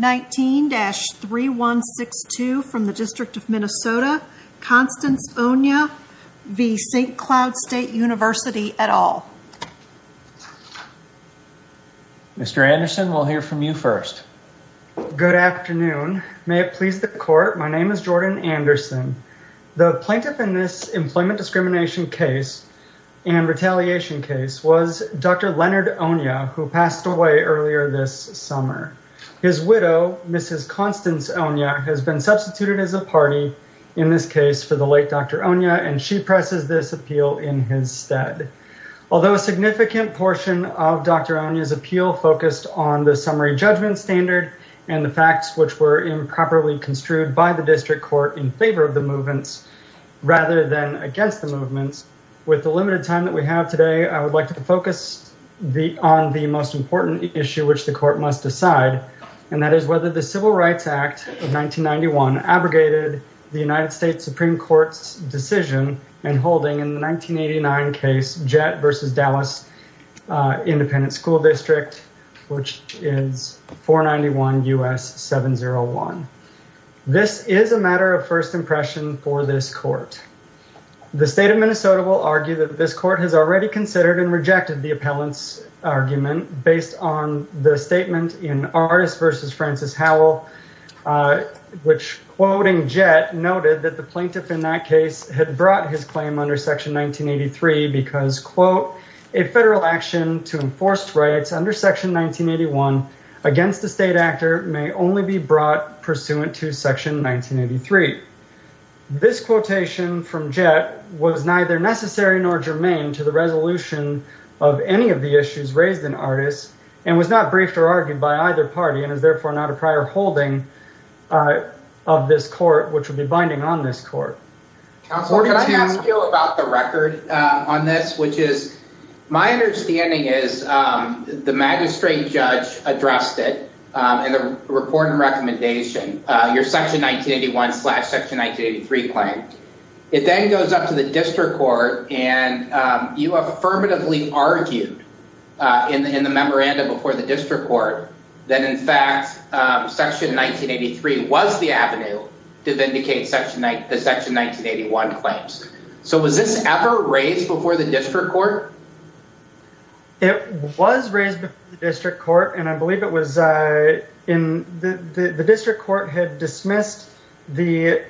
19-3162 from the District of Minnesota, Constance Onyiah v. St. Cloud State University et al. Mr. Anderson we'll hear from you first. Good afternoon, may it please the court, my name is Jordan Anderson. The plaintiff in this employment discrimination case and retaliation case was Dr. Leonard Onyiah who passed away earlier this summer. His widow Mrs. Constance Onyiah has been substituted as a party in this case for the late Dr. Onyiah and she presses this appeal in his stead. Although a significant portion of Dr. Onyiah's appeal focused on the summary judgment standard and the facts which were improperly construed by the district court in favor of the movements rather than against the movements, with the limited time that we have today I would like to focus the on the most important issue which the court must decide and that is whether the Civil Rights Act of 1991 abrogated the United States Supreme Court's decision and holding in the 1989 case Jett v. Dallas Independent School District which is 491 U.S. 701. This is a matter of first impression for this court. The state of Minnesota will argue that this court has already considered and rejected the appellant's argument based on the statement in Artis v. Francis Howell which quoting Jett noted that the plaintiff in that case had brought his claim under section 1983 because quote a federal action to enforced rights under section 1981 against the state actor may only be brought pursuant to section 1983. This quotation from Jett was neither necessary nor germane to the resolution of any of the issues raised in Artis and was not briefed or argued by either party and is therefore not a prior holding of this court which would be binding on this court. Can I ask you about the record on this which is my understanding is the magistrate judge addressed it in the report and recommendation your section 1981 slash section 1983 claim. It then goes up to the district court and you affirmatively argued in the in the memoranda before the district court that in fact section 1983 was the avenue to vindicate the section 1981 claims. So was this ever raised before the district court? It was raised before the district court and I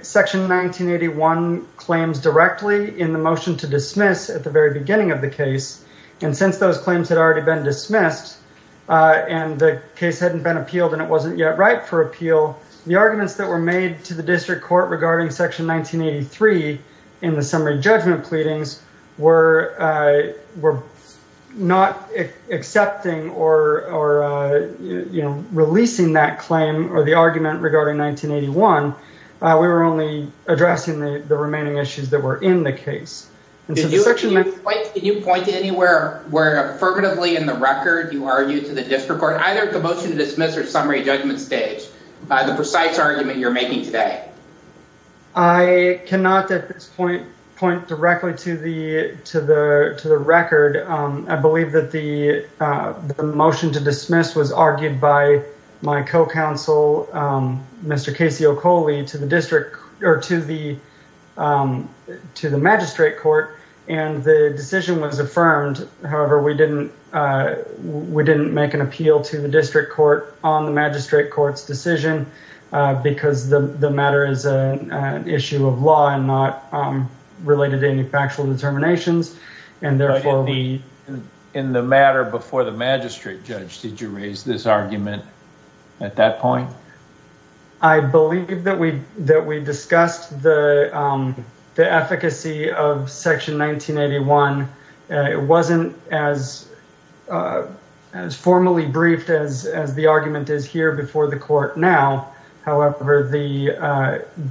section 1981 claims directly in the motion to dismiss at the very beginning of the case and since those claims had already been dismissed and the case hadn't been appealed and it wasn't yet right for appeal the arguments that were made to the district court regarding section 1983 in the summary judgment pleadings were were not accepting or you know releasing that claim or the addressing the remaining issues that were in the case. Can you point to anywhere where affirmatively in the record you argued to the district court either the motion to dismiss or summary judgment stage by the precise argument you're making today? I cannot at this point point directly to the to the to the record. I believe that the motion to dismiss was argued by my co-counsel Mr. Casey Okole to the district or to the to the magistrate court and the decision was affirmed however we didn't we didn't make an appeal to the district court on the magistrate courts decision because the the matter is an issue of law and not related any factual determinations and therefore we... In the matter before the magistrate judge did you raise this argument at that point? No I believe that we that we discussed the efficacy of section 1981 it wasn't as as formally briefed as as the argument is here before the court now however the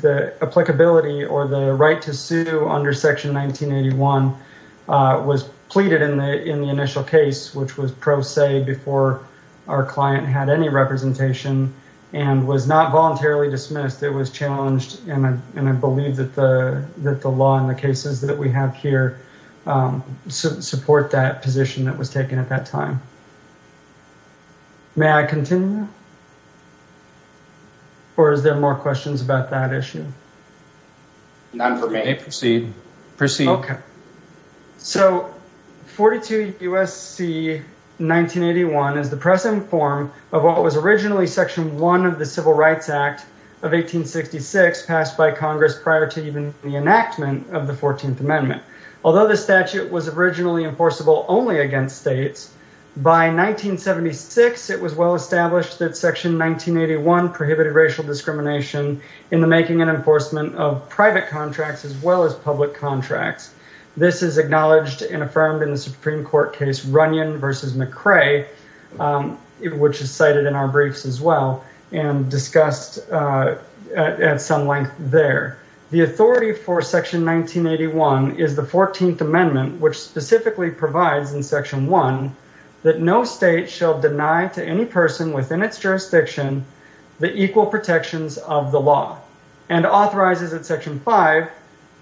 the applicability or the right to sue under section 1981 was pleaded in the in the initial case which was pro se before our client had any representation and was not voluntarily dismissed it was challenged and I believe that the that the law in the cases that we have here support that position that was taken at that time. May I continue or is there more questions about that issue? Not for me. Proceed. Proceed. Okay so 42 USC 1981 is the impressive form of what was originally section 1 of the Civil Rights Act of 1866 passed by Congress prior to even the enactment of the 14th Amendment although the statute was originally enforceable only against states by 1976 it was well established that section 1981 prohibited racial discrimination in the making and enforcement of private contracts as well as public contracts this is acknowledged and affirmed in the Supreme Court case Runyon versus McRae which is cited in our briefs as well and discussed at some length there the authority for section 1981 is the 14th Amendment which specifically provides in section 1 that no state shall deny to any person within its jurisdiction the equal protections of the law and authorizes at section 5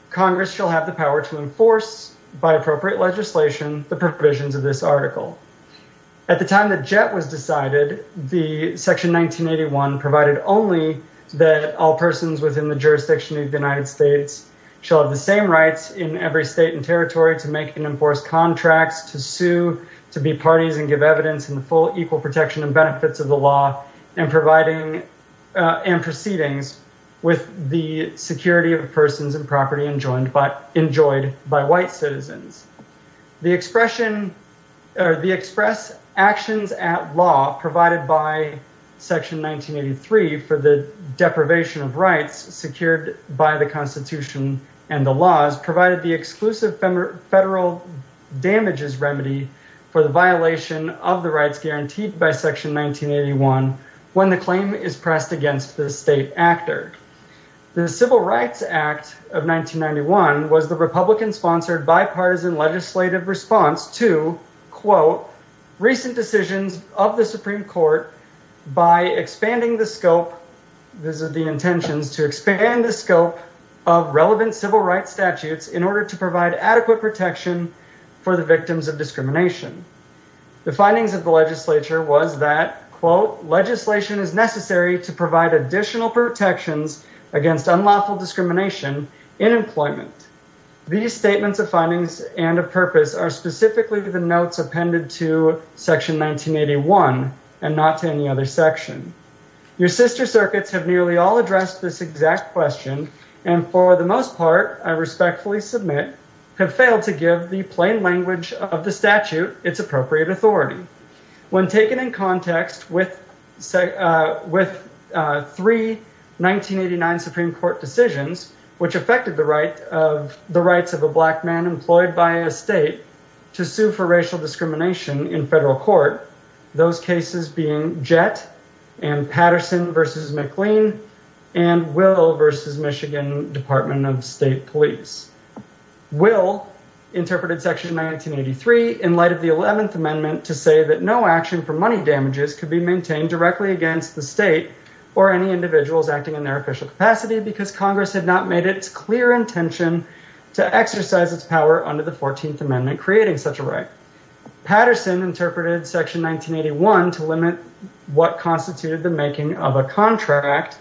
Congress shall have the power to enforce by appropriate legislation the provisions of this at the time the jet was decided the section 1981 provided only that all persons within the jurisdiction of the United States shall have the same rights in every state and territory to make and enforce contracts to sue to be parties and give evidence in the full equal protection and benefits of the law and providing and proceedings with the security of persons and property and but enjoyed by white citizens the expression or the express actions at law provided by section 1983 for the deprivation of rights secured by the Constitution and the laws provided the exclusive federal damages remedy for the violation of the rights guaranteed by section 1981 when the claim is pressed against the state actor the Civil Rights Act of 1991 was the Republican sponsored bipartisan legislative response to quote recent decisions of the Supreme Court by expanding the scope this is the intentions to expand the scope of relevant civil rights statutes in order to provide adequate protection for the victims of discrimination the findings of the legislature was that quote legislation is necessary to provide additional protections against unlawful discrimination in employment these statements of findings and a purpose are specifically the notes appended to section 1981 and not to any other section your sister circuits have nearly all addressed this exact question and for the most part I respectfully submit have failed to give the plain language of the statute it's appropriate authority when taken in context with say with three 1989 Supreme Court decisions which affected the right of the rights of a black man employed by a state to sue for racial discrimination in federal court those cases being jet and Patterson versus McLean and will versus Michigan Department of State Police will interpreted section 1983 in light of the 11th amendment to say that no action for money damages could be maintained directly against the state or any individuals acting in their official capacity because Congress had not made its clear intention to exercise its power under the 14th amendment creating such a right Patterson interpreted section 1981 to limit what constituted the making of a contract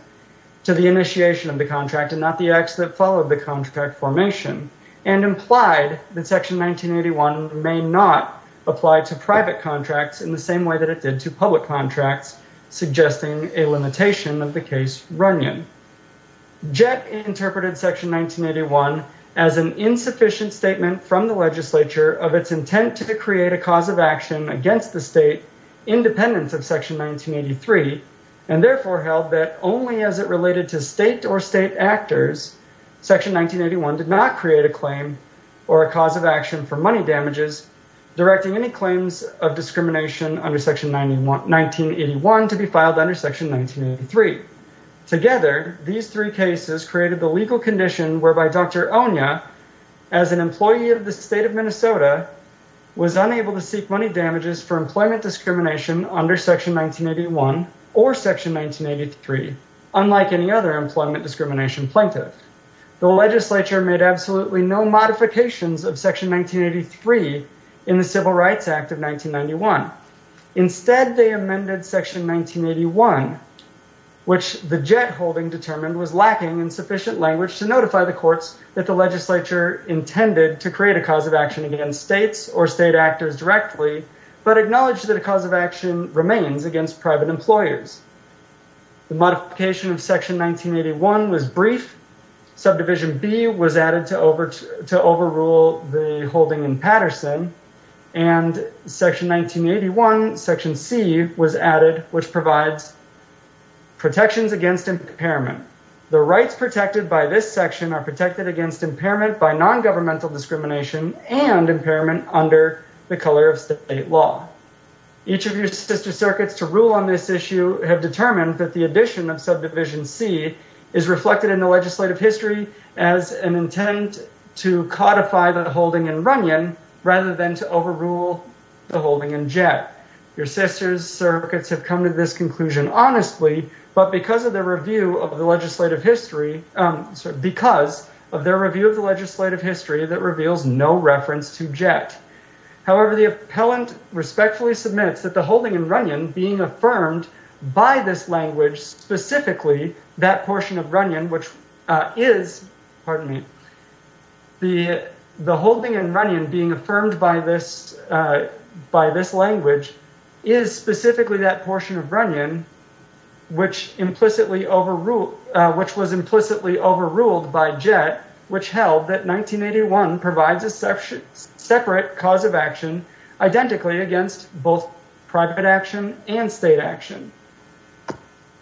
to the initiation of the contract and not the acts that follow the contract formation and implied that section 1981 may not apply to private contracts in the same way that it did to public contracts suggesting a limitation of the case running jet interpreted section 1981 as an insufficient statement from the legislature of its intent to create a cause of action against the state independence of section 1983 and therefore held that only as it related to state or state actors section 1981 did not create a claim or a cause of action for money damages directing any claims of discrimination under section 91 1981 to be filed under section 1983 together these three cases created the legal condition whereby dr. Onya as an employee of the state of Minnesota was unable to seek money damages for employment discrimination under section 1981 or section 1983 unlike any other employment discrimination plaintiff the legislature made absolutely no modifications of section 1983 in the Civil Rights Act of 1991 instead they amended section 1981 which the jet holding determined was lacking in sufficient language to notify the courts that the legislature intended to create a cause of action against states or against private employers the modification of section 1981 was brief subdivision B was added to over to overrule the holding in Patterson and section 1981 section C was added which provides protections against impairment the rights protected by this section are protected against impairment by non-governmental discrimination and impairment under the color of state law each of your sister circuits to rule on this issue have determined that the addition of subdivision C is reflected in the legislative history as an intent to codify the holding in Runyon rather than to overrule the holding in jet your sisters circuits have come to this conclusion honestly but because of the review of the legislative history because of their review of the legislative history that reveals no reference to jet however the appellant respectfully submits that the holding in Runyon being affirmed by this language specifically that portion of Runyon which is pardon me the the holding in Runyon being affirmed by this by this language is specifically that portion of Runyon which implicitly overruled which was implicitly overruled by jet which held that 1981 provides a separate cause of action identically against both private action and state action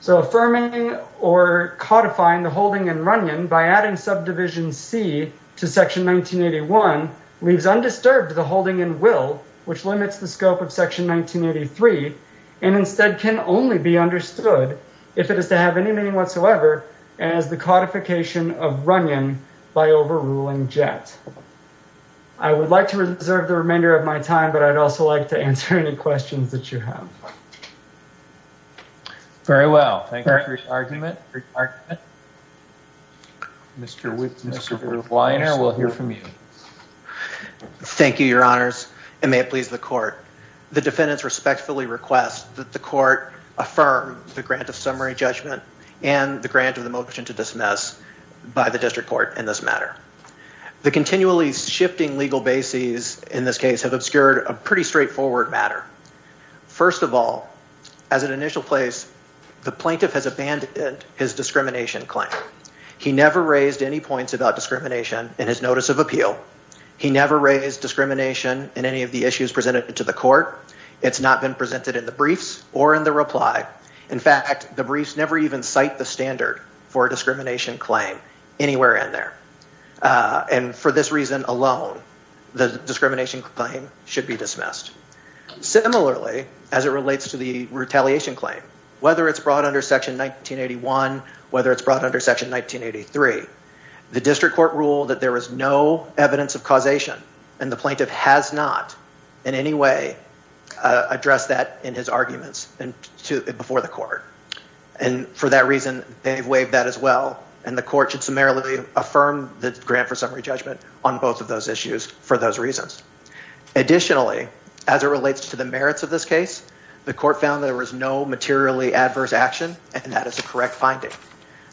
so affirming or codifying the holding in Runyon by adding subdivision C to section 1981 leaves undisturbed the holding in will which limits the scope of section 1983 and instead can only be understood if it is to have any meaning whatsoever as the codification of Runyon by overruling jet I would like to reserve the remainder of my time but I'd also like to answer any questions that you have. Very well thank you for your argument. Mr. Weiner we'll hear from you. Thank you your honors and may it please the court the defendants respectfully request that the court affirm the grant of summary judgment and the grant of the motion to dismiss by the district court in this matter the continually shifting legal bases in this case have obscured a pretty straightforward matter first of all as an initial place the plaintiff has abandoned his discrimination claim he never raised any points about discrimination in his notice of appeal he never raised discrimination in any of the issues presented to the court it's not been presented in the briefs or in the reply in fact the briefs never even cite the standard for a discrimination claim anywhere in there and for this reason alone the discrimination claim should be dismissed similarly as it relates to the retaliation claim whether it's brought under section 1981 whether it's brought under section 1983 the district court ruled that there was no evidence of causation and the plaintiff has not in any way address that in his arguments and to before the court and for that reason they've waived that as well and the court should summarily affirm the grant for summary judgment on both of those issues for those reasons additionally as it relates to the merits of this case the court found there was no materially adverse action and that is a correct finding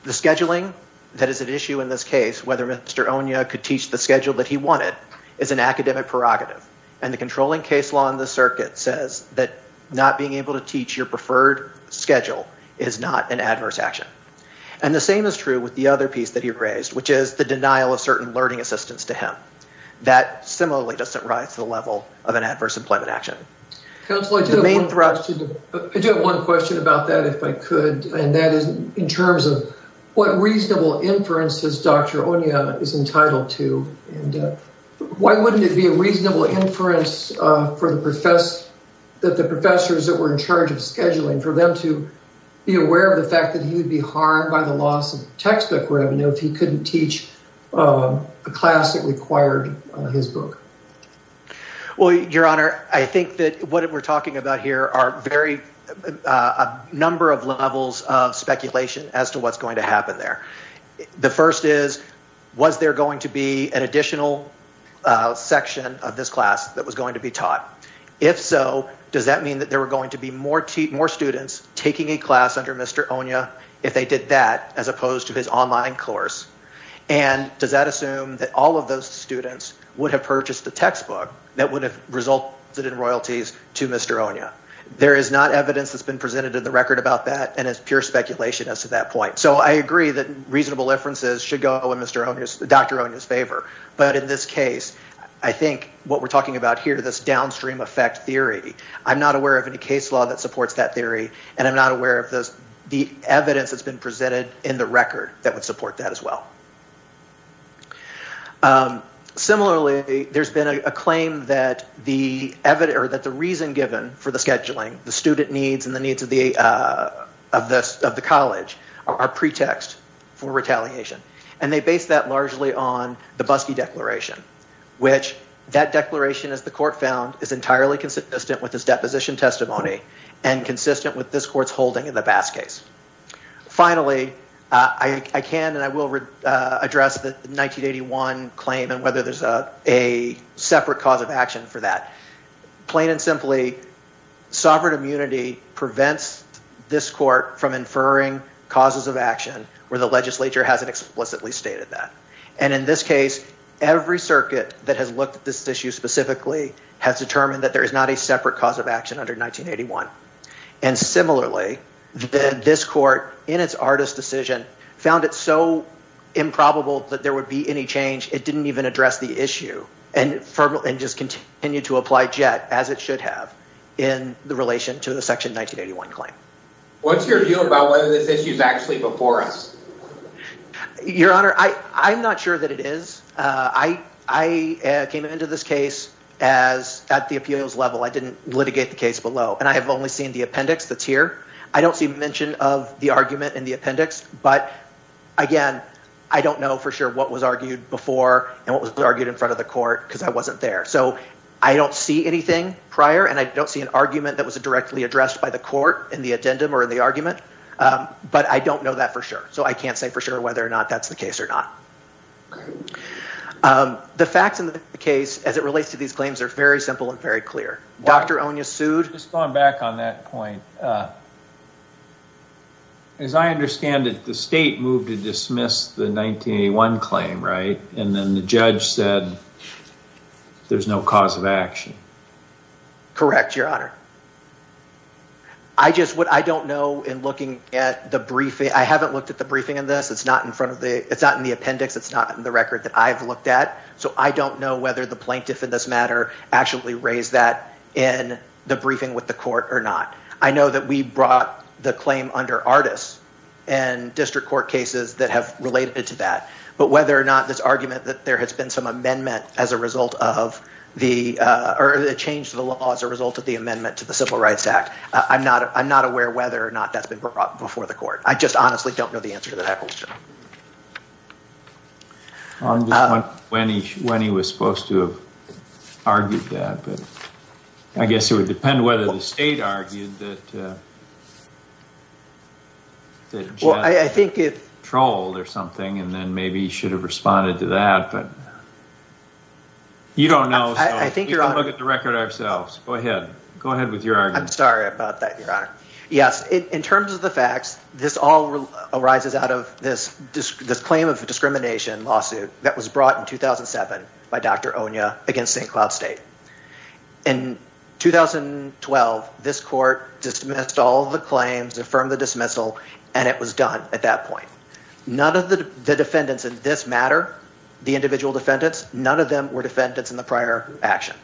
the scheduling that is an issue in this case whether mr. Onia could teach the schedule that he wanted is an academic prerogative and the controlling case law in the circuit says that not being able to teach your preferred schedule is not an adverse action and the same is true with the other piece that he raised which is the denial of certain learning assistance to him that similarly doesn't rise to the level of an adverse employment action. I do have one question about that if I could and that is in terms of what reasonable inferences dr. Onia is entitled to and why wouldn't it be a reasonable inference for the professor that the professors that were in charge of scheduling for them to be aware of the fact that he would be harmed by the loss of textbook revenue if he couldn't teach a class that required his book. Well your honor I think that what we're talking about here are very a number of levels of speculation as to what's going to happen there the first is was there going to be an additional section of this class that was going to be taught if so does that mean that there were going to be more students taking a class under mr. Onia if they did that as opposed to his online course and does that assume that all of those students would have purchased the textbook that would have resulted in royalties to mr. Onia there is not evidence that's been presented in the record about that and it's pure speculation as to that point so I agree that reasonable inferences should go in mr. Onia's favor but in this case I think what we're talking about here this downstream effect theory I'm not aware of any case law that supports that theory and I'm not aware of this the evidence that's been presented in the record that would support that as well similarly there's been a claim that the evidence or that the reason given for the scheduling the student needs and the needs of the of this of the college our pretext for retaliation and they based that largely on the busky declaration which that declaration as the court found is entirely consistent with this position testimony and consistent with this court's holding in the bass case finally I can and I will address the 1981 claim and whether there's a a separate cause of action for that plain and simply sovereign immunity prevents this court from inferring causes of action where the legislature hasn't explicitly stated that and in this case every circuit that has looked at this issue specifically has determined that there is not a separate cause of action under 1981 and similarly then this court in its artist decision found it so improbable that there would be any change it didn't even address the issue and firm and just continue to apply jet as it should have in the relation to the section 1981 claim what's your view about whether this issue is actually before us your honor I I'm not sure that it is I I came into this case as at the appeals level I didn't litigate the case below and I have only seen the appendix that's here I don't see mention of the argument in the appendix but again I don't know for sure what was argued before and what was argued in front of the court because I wasn't there so I don't see anything prior and I don't see an argument that was a directly addressed by the court in the for sure so I can't say for sure whether or not that's the case or not the facts in the case as it relates to these claims are very simple and very clear dr. Onya sued just gone back on that point as I understand it the state moved to dismiss the 1981 claim right and then the judge said there's no cause of action correct your honor I just what I don't know in looking at the briefing I haven't looked at the briefing in this it's not in front of the it's not in the appendix it's not in the record that I've looked at so I don't know whether the plaintiff in this matter actually raised that in the briefing with the court or not I know that we brought the claim under artists and district court cases that have related to that but whether or not this argument that there has been some amendment as a result of the or the change the law as a result of the amendment to the Civil Rights Act I'm not I'm not aware whether or not that's been brought before the court I just honestly don't know the answer to that question when he when he was supposed to have argued that but I guess it would depend whether the state argued that well I think it trolled or something and then maybe he should have responded to that but you don't know I think you're on look at the record ourselves go ahead go ahead with your I'm sorry about that your honor yes in terms of the facts this all arises out of this this claim of discrimination lawsuit that was brought in 2007 by dr. Onya against St. Cloud State in 2012 this court dismissed all the claims affirmed the dismissal and it was done at that point none of the defendants in this matter the individual defendants none of them were defendants in the prior action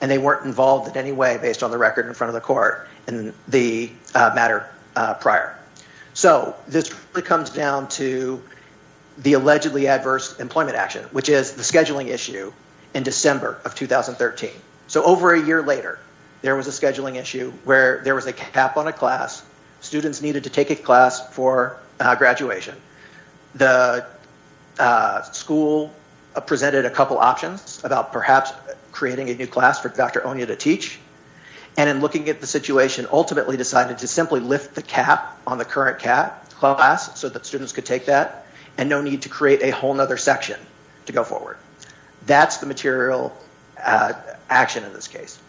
and they weren't involved in any way based on the record in front of the court and the matter prior so this really comes down to the allegedly adverse employment action which is the scheduling issue in December of 2013 so over a year later there was a scheduling issue where there was a cap on a class students needed to take a class for graduation the school presented a couple options about perhaps creating a new class for dr. Onya to teach and in getting at the situation ultimately decided to simply lift the cap on the current cap class so that students could take that and no need to create a whole nother section to go forward that's the material action in this case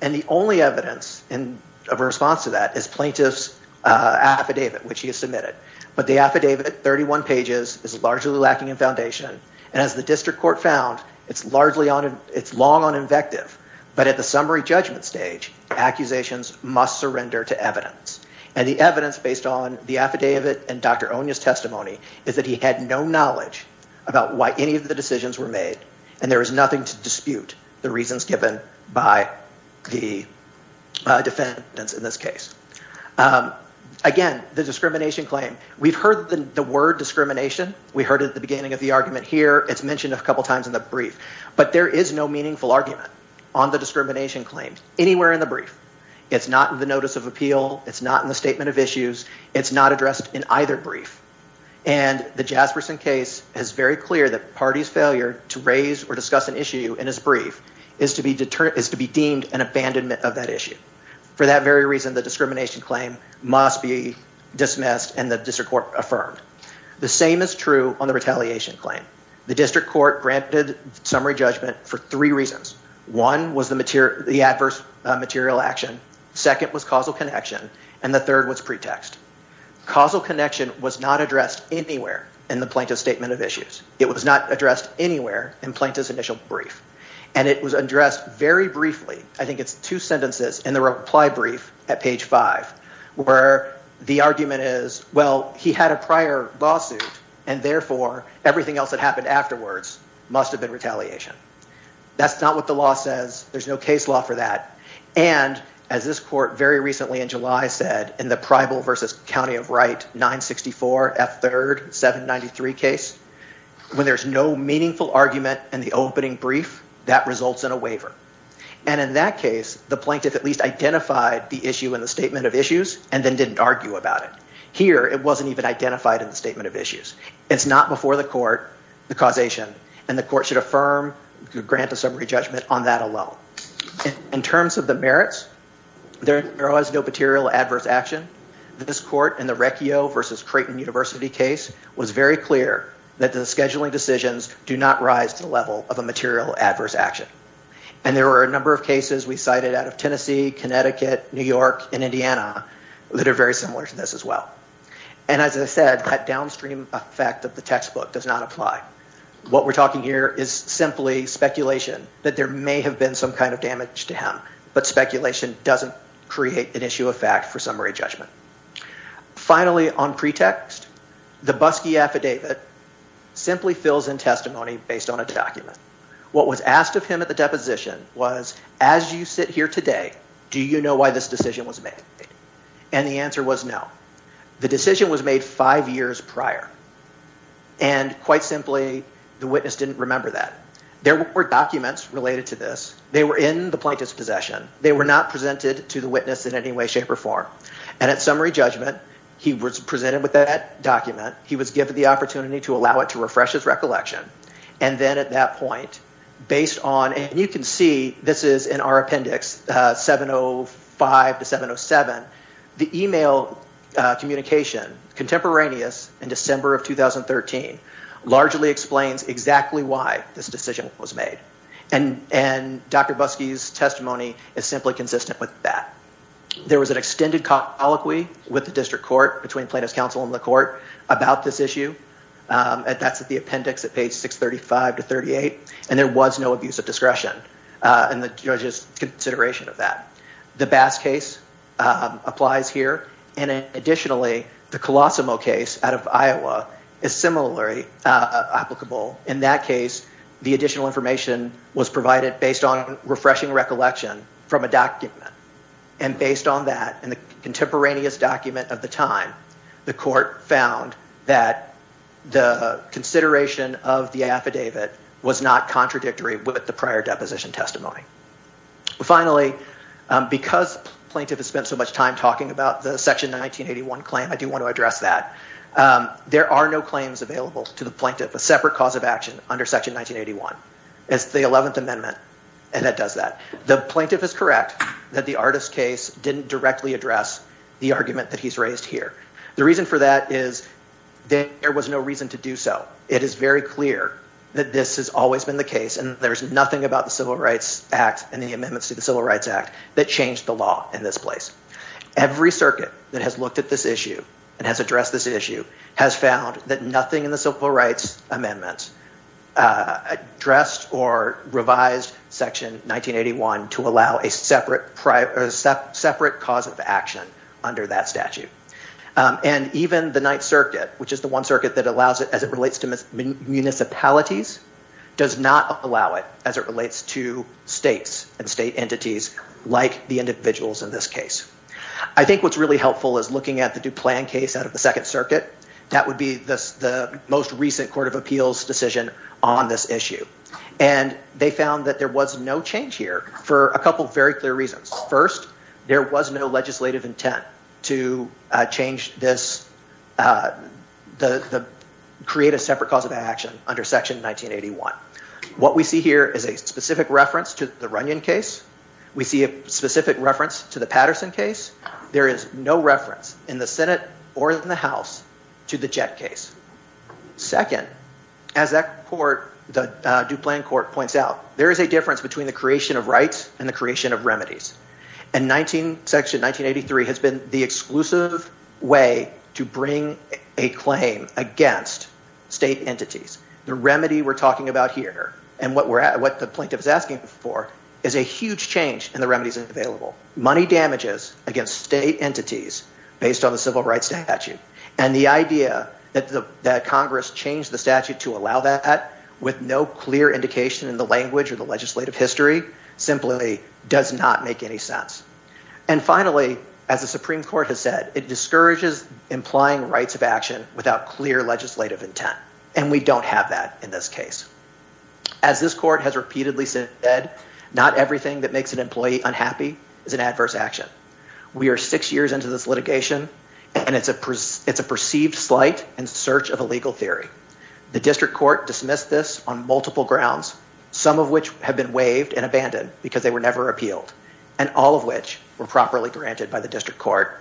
and the only evidence in a response to that is plaintiffs affidavit which he has submitted but the affidavit 31 pages is largely lacking in foundation and as the district court found it's largely on its long on invective but at the summary judgment stage accusations must surrender to evidence and the evidence based on the affidavit and dr. Onya's testimony is that he had no knowledge about why any of the decisions were made and there is nothing to dispute the reasons given by the defendants in this case again the discrimination claim we've heard the word discrimination we heard it at the beginning of the argument here it's mentioned a couple times in the brief but there is no argument on the discrimination claims anywhere in the brief it's not in the notice of appeal it's not in the statement of issues it's not addressed in either brief and the Jasperson case is very clear that parties failure to raise or discuss an issue in his brief is to be determined is to be deemed an abandonment of that issue for that very reason the discrimination claim must be dismissed and the district court affirmed the same is true on the retaliation claim the district court granted summary judgment for three reasons one was the material the adverse material action second was causal connection and the third was pretext causal connection was not addressed anywhere in the plaintiff statement of issues it was not addressed anywhere in plaintiff's initial brief and it was addressed very briefly I think it's two sentences in the reply brief at page 5 where the argument is well he had a prior lawsuit and therefore everything else that happened afterwards must have been retaliation that's not what the law says there's no case law for that and as this court very recently in July said in the prival versus County of Wright 964 f3rd 793 case when there's no meaningful argument and the opening brief that results in a waiver and in that case the plaintiff at least identified the issue in the statement of issues and then didn't argue about it here it wasn't even identified in the statement of issues it's not before the court the causation and the court should affirm grant a summary judgment on that alone in terms of the merits there there was no material adverse action this court in the reccio versus Creighton University case was very clear that the scheduling decisions do not rise to the level of a material adverse action and there were a number of cases we cited out of Tennessee Connecticut New York in Indiana that are very similar to this as well and as I said that downstream effect of the textbook does not apply what we're talking here is simply speculation that there may have been some kind of damage to him but speculation doesn't create an issue of fact for summary judgment finally on pretext the busky affidavit simply fills in testimony based on a document what was asked of him at the deposition was as you sit here today do you know why this decision was made and the answer was no the decision was made five years prior and quite simply the witness didn't remember that there were documents related to this they were in the plaintiff's possession they were not presented to the witness in any way shape or form and at summary judgment he was presented with that document he was given the opportunity to allow it to refresh his recollection and then at that point based on and you can see this in our appendix 705 to 707 the email communication contemporaneous in December of 2013 largely explains exactly why this decision was made and and dr. Buskey's testimony is simply consistent with that there was an extended colloquy with the district court between plaintiff's counsel in the court about this issue and that's at the appendix at page 635 to 38 and there was no abuse of discretion and the judge's consideration of that the bass case applies here and additionally the Colosimo case out of Iowa is similarly applicable in that case the additional information was provided based on refreshing recollection from a document and based on that in the contemporaneous document of the time the court found that the consideration of the affidavit was not contradictory with the prior deposition testimony finally because plaintiff has spent so much time talking about the section 1981 claim I do want to address that there are no claims available to the plaintiff a separate cause of action under section 1981 it's the 11th amendment and that does that the plaintiff is correct that the artist case didn't directly address the argument that he's raised here the reason for that is there was no reason to do so it is very clear that this has always been the case and there's nothing about the Civil Rights Act and the amendments to the Civil Rights Act that changed the law in this place every circuit that has looked at this issue and has addressed this issue has found that nothing in the civil rights amendments addressed or revised section 1981 to allow a separate private separate cause of action under that statute and even the Ninth Circuit which is the one circuit that allows it as it relates to municipalities does not allow it as it relates to states and state entities like the individuals in this case I think what's really helpful is looking at the Duplan case out of the Second Circuit that would be this the most recent Court of Appeals decision on this issue and they found that there was no change here for a couple very clear first there was no legislative intent to change this the create a separate cause of action under section 1981 what we see here is a specific reference to the Runyon case we see a specific reference to the Patterson case there is no reference in the Senate or in the house to the Jett case second as that court the Duplan court points out there is a difference between the creation of remedies and 19 section 1983 has been the exclusive way to bring a claim against state entities the remedy we're talking about here and what we're at what the plaintiff is asking for is a huge change in the remedies available money damages against state entities based on the civil rights statute and the idea that the Congress changed the statute to allow that with no clear indication in the language of the legislative history simply does not make any sense and finally as the Supreme Court has said it discourages implying rights of action without clear legislative intent and we don't have that in this case as this court has repeatedly said not everything that makes an employee unhappy is an adverse action we are six years into this litigation and it's a it's a perceived slight and search of a legal theory the some of which have been waived and abandoned because they were never appealed and all of which were properly granted by the district court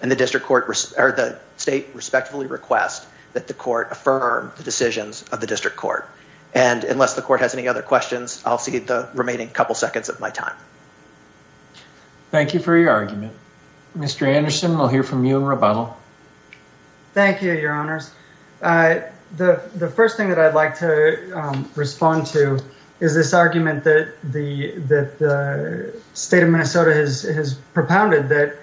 and the district court or the state respectfully request that the court affirm the decisions of the district court and unless the court has any other questions I'll see the remaining couple seconds of my time thank you for your argument mr. Anderson we'll hear from you in rebuttal thank you your honors the the first thing that I'd like to respond to is this argument that the that the state of Minnesota has propounded that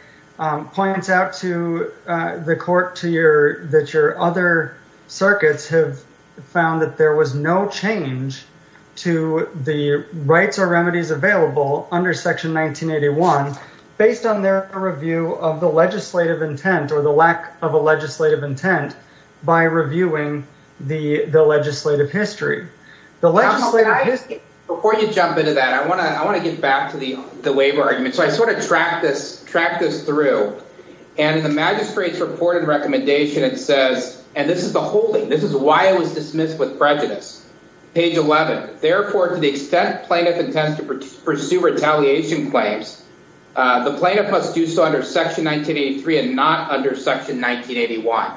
points out to the court to your that your other circuits have found that there was no change to the rights or remedies available under section 1981 based on their review of the legislative intent or the lack of a legislative intent by reviewing the the legislative history the legislative before you jump into that I want to I want to get back to the the waiver argument so I sort of track this track this through and the magistrates reported recommendation it says and this is the holding this is why it was dismissed with prejudice page 11 therefore to the extent plaintiff intended to pursue retaliation claims the plaintiff must do so under section 1983 and not under section 1981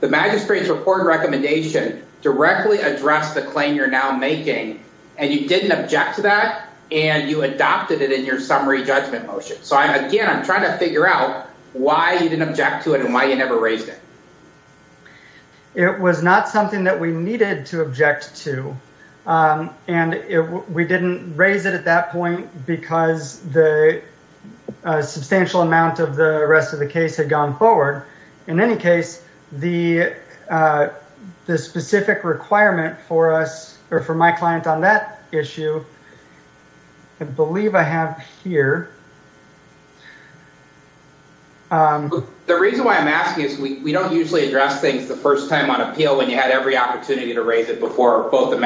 the magistrates report recommendation directly address the claim you're now making and you didn't object to that and you adopted it in your summary judgment motion so I'm again I'm trying to figure out why you didn't object to it and why you never raised it it was not something that we needed to object to and if we didn't raise it at that point because the substantial amount of the rest of the case had gone forward in any case the the specific requirement for us or for my client on that issue I believe I have here the reason why I'm asking is we don't usually address things the first time on appeal when you had every opportunity to raise it before both the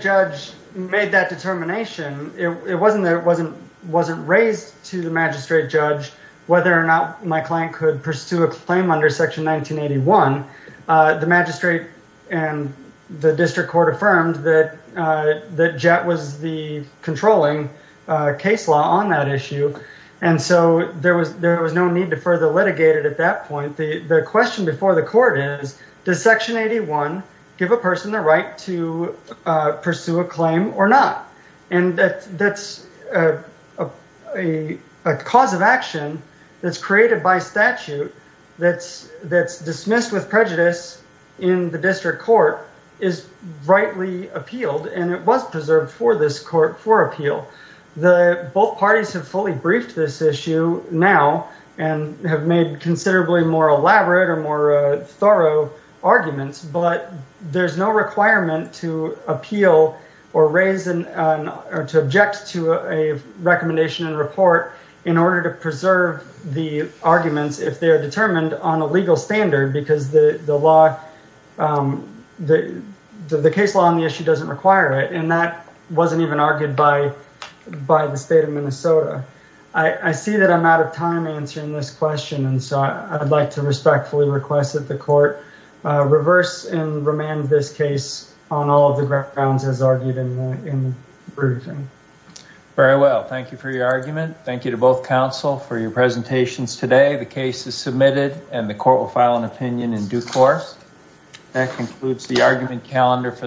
judge made that determination it wasn't there wasn't wasn't raised to the magistrate judge whether or not my client could pursue a claim under section 1981 the magistrate and the district court affirmed that the jet was the controlling case law on that issue and so there was there was no need to further litigate it at that point the the question before the court is does section 81 give a person the right to pursue a claim or not and that that's a cause of action that's created by statute that's that's dismissed with prejudice in the district court is rightly appealed and it was preserved for this court for appeal the both parties have fully briefed this issue now and have made considerably more elaborate or more thorough arguments but there's no requirement to appeal or raisin or to object to a recommendation and report in order to preserve the arguments if they are determined on a legal standard because the the law the the case law on the issue doesn't require it and that wasn't even argued by by the state of Minnesota I I see that I'm out of time answering this question and so I'd like to respectfully request that the court reverse and remand this case on all of the grounds as argued in the briefing very well thank you for your argument thank you to both counsel for your presentations today the case is submitted and the court will file an opinion in due course that concludes the argument calendar for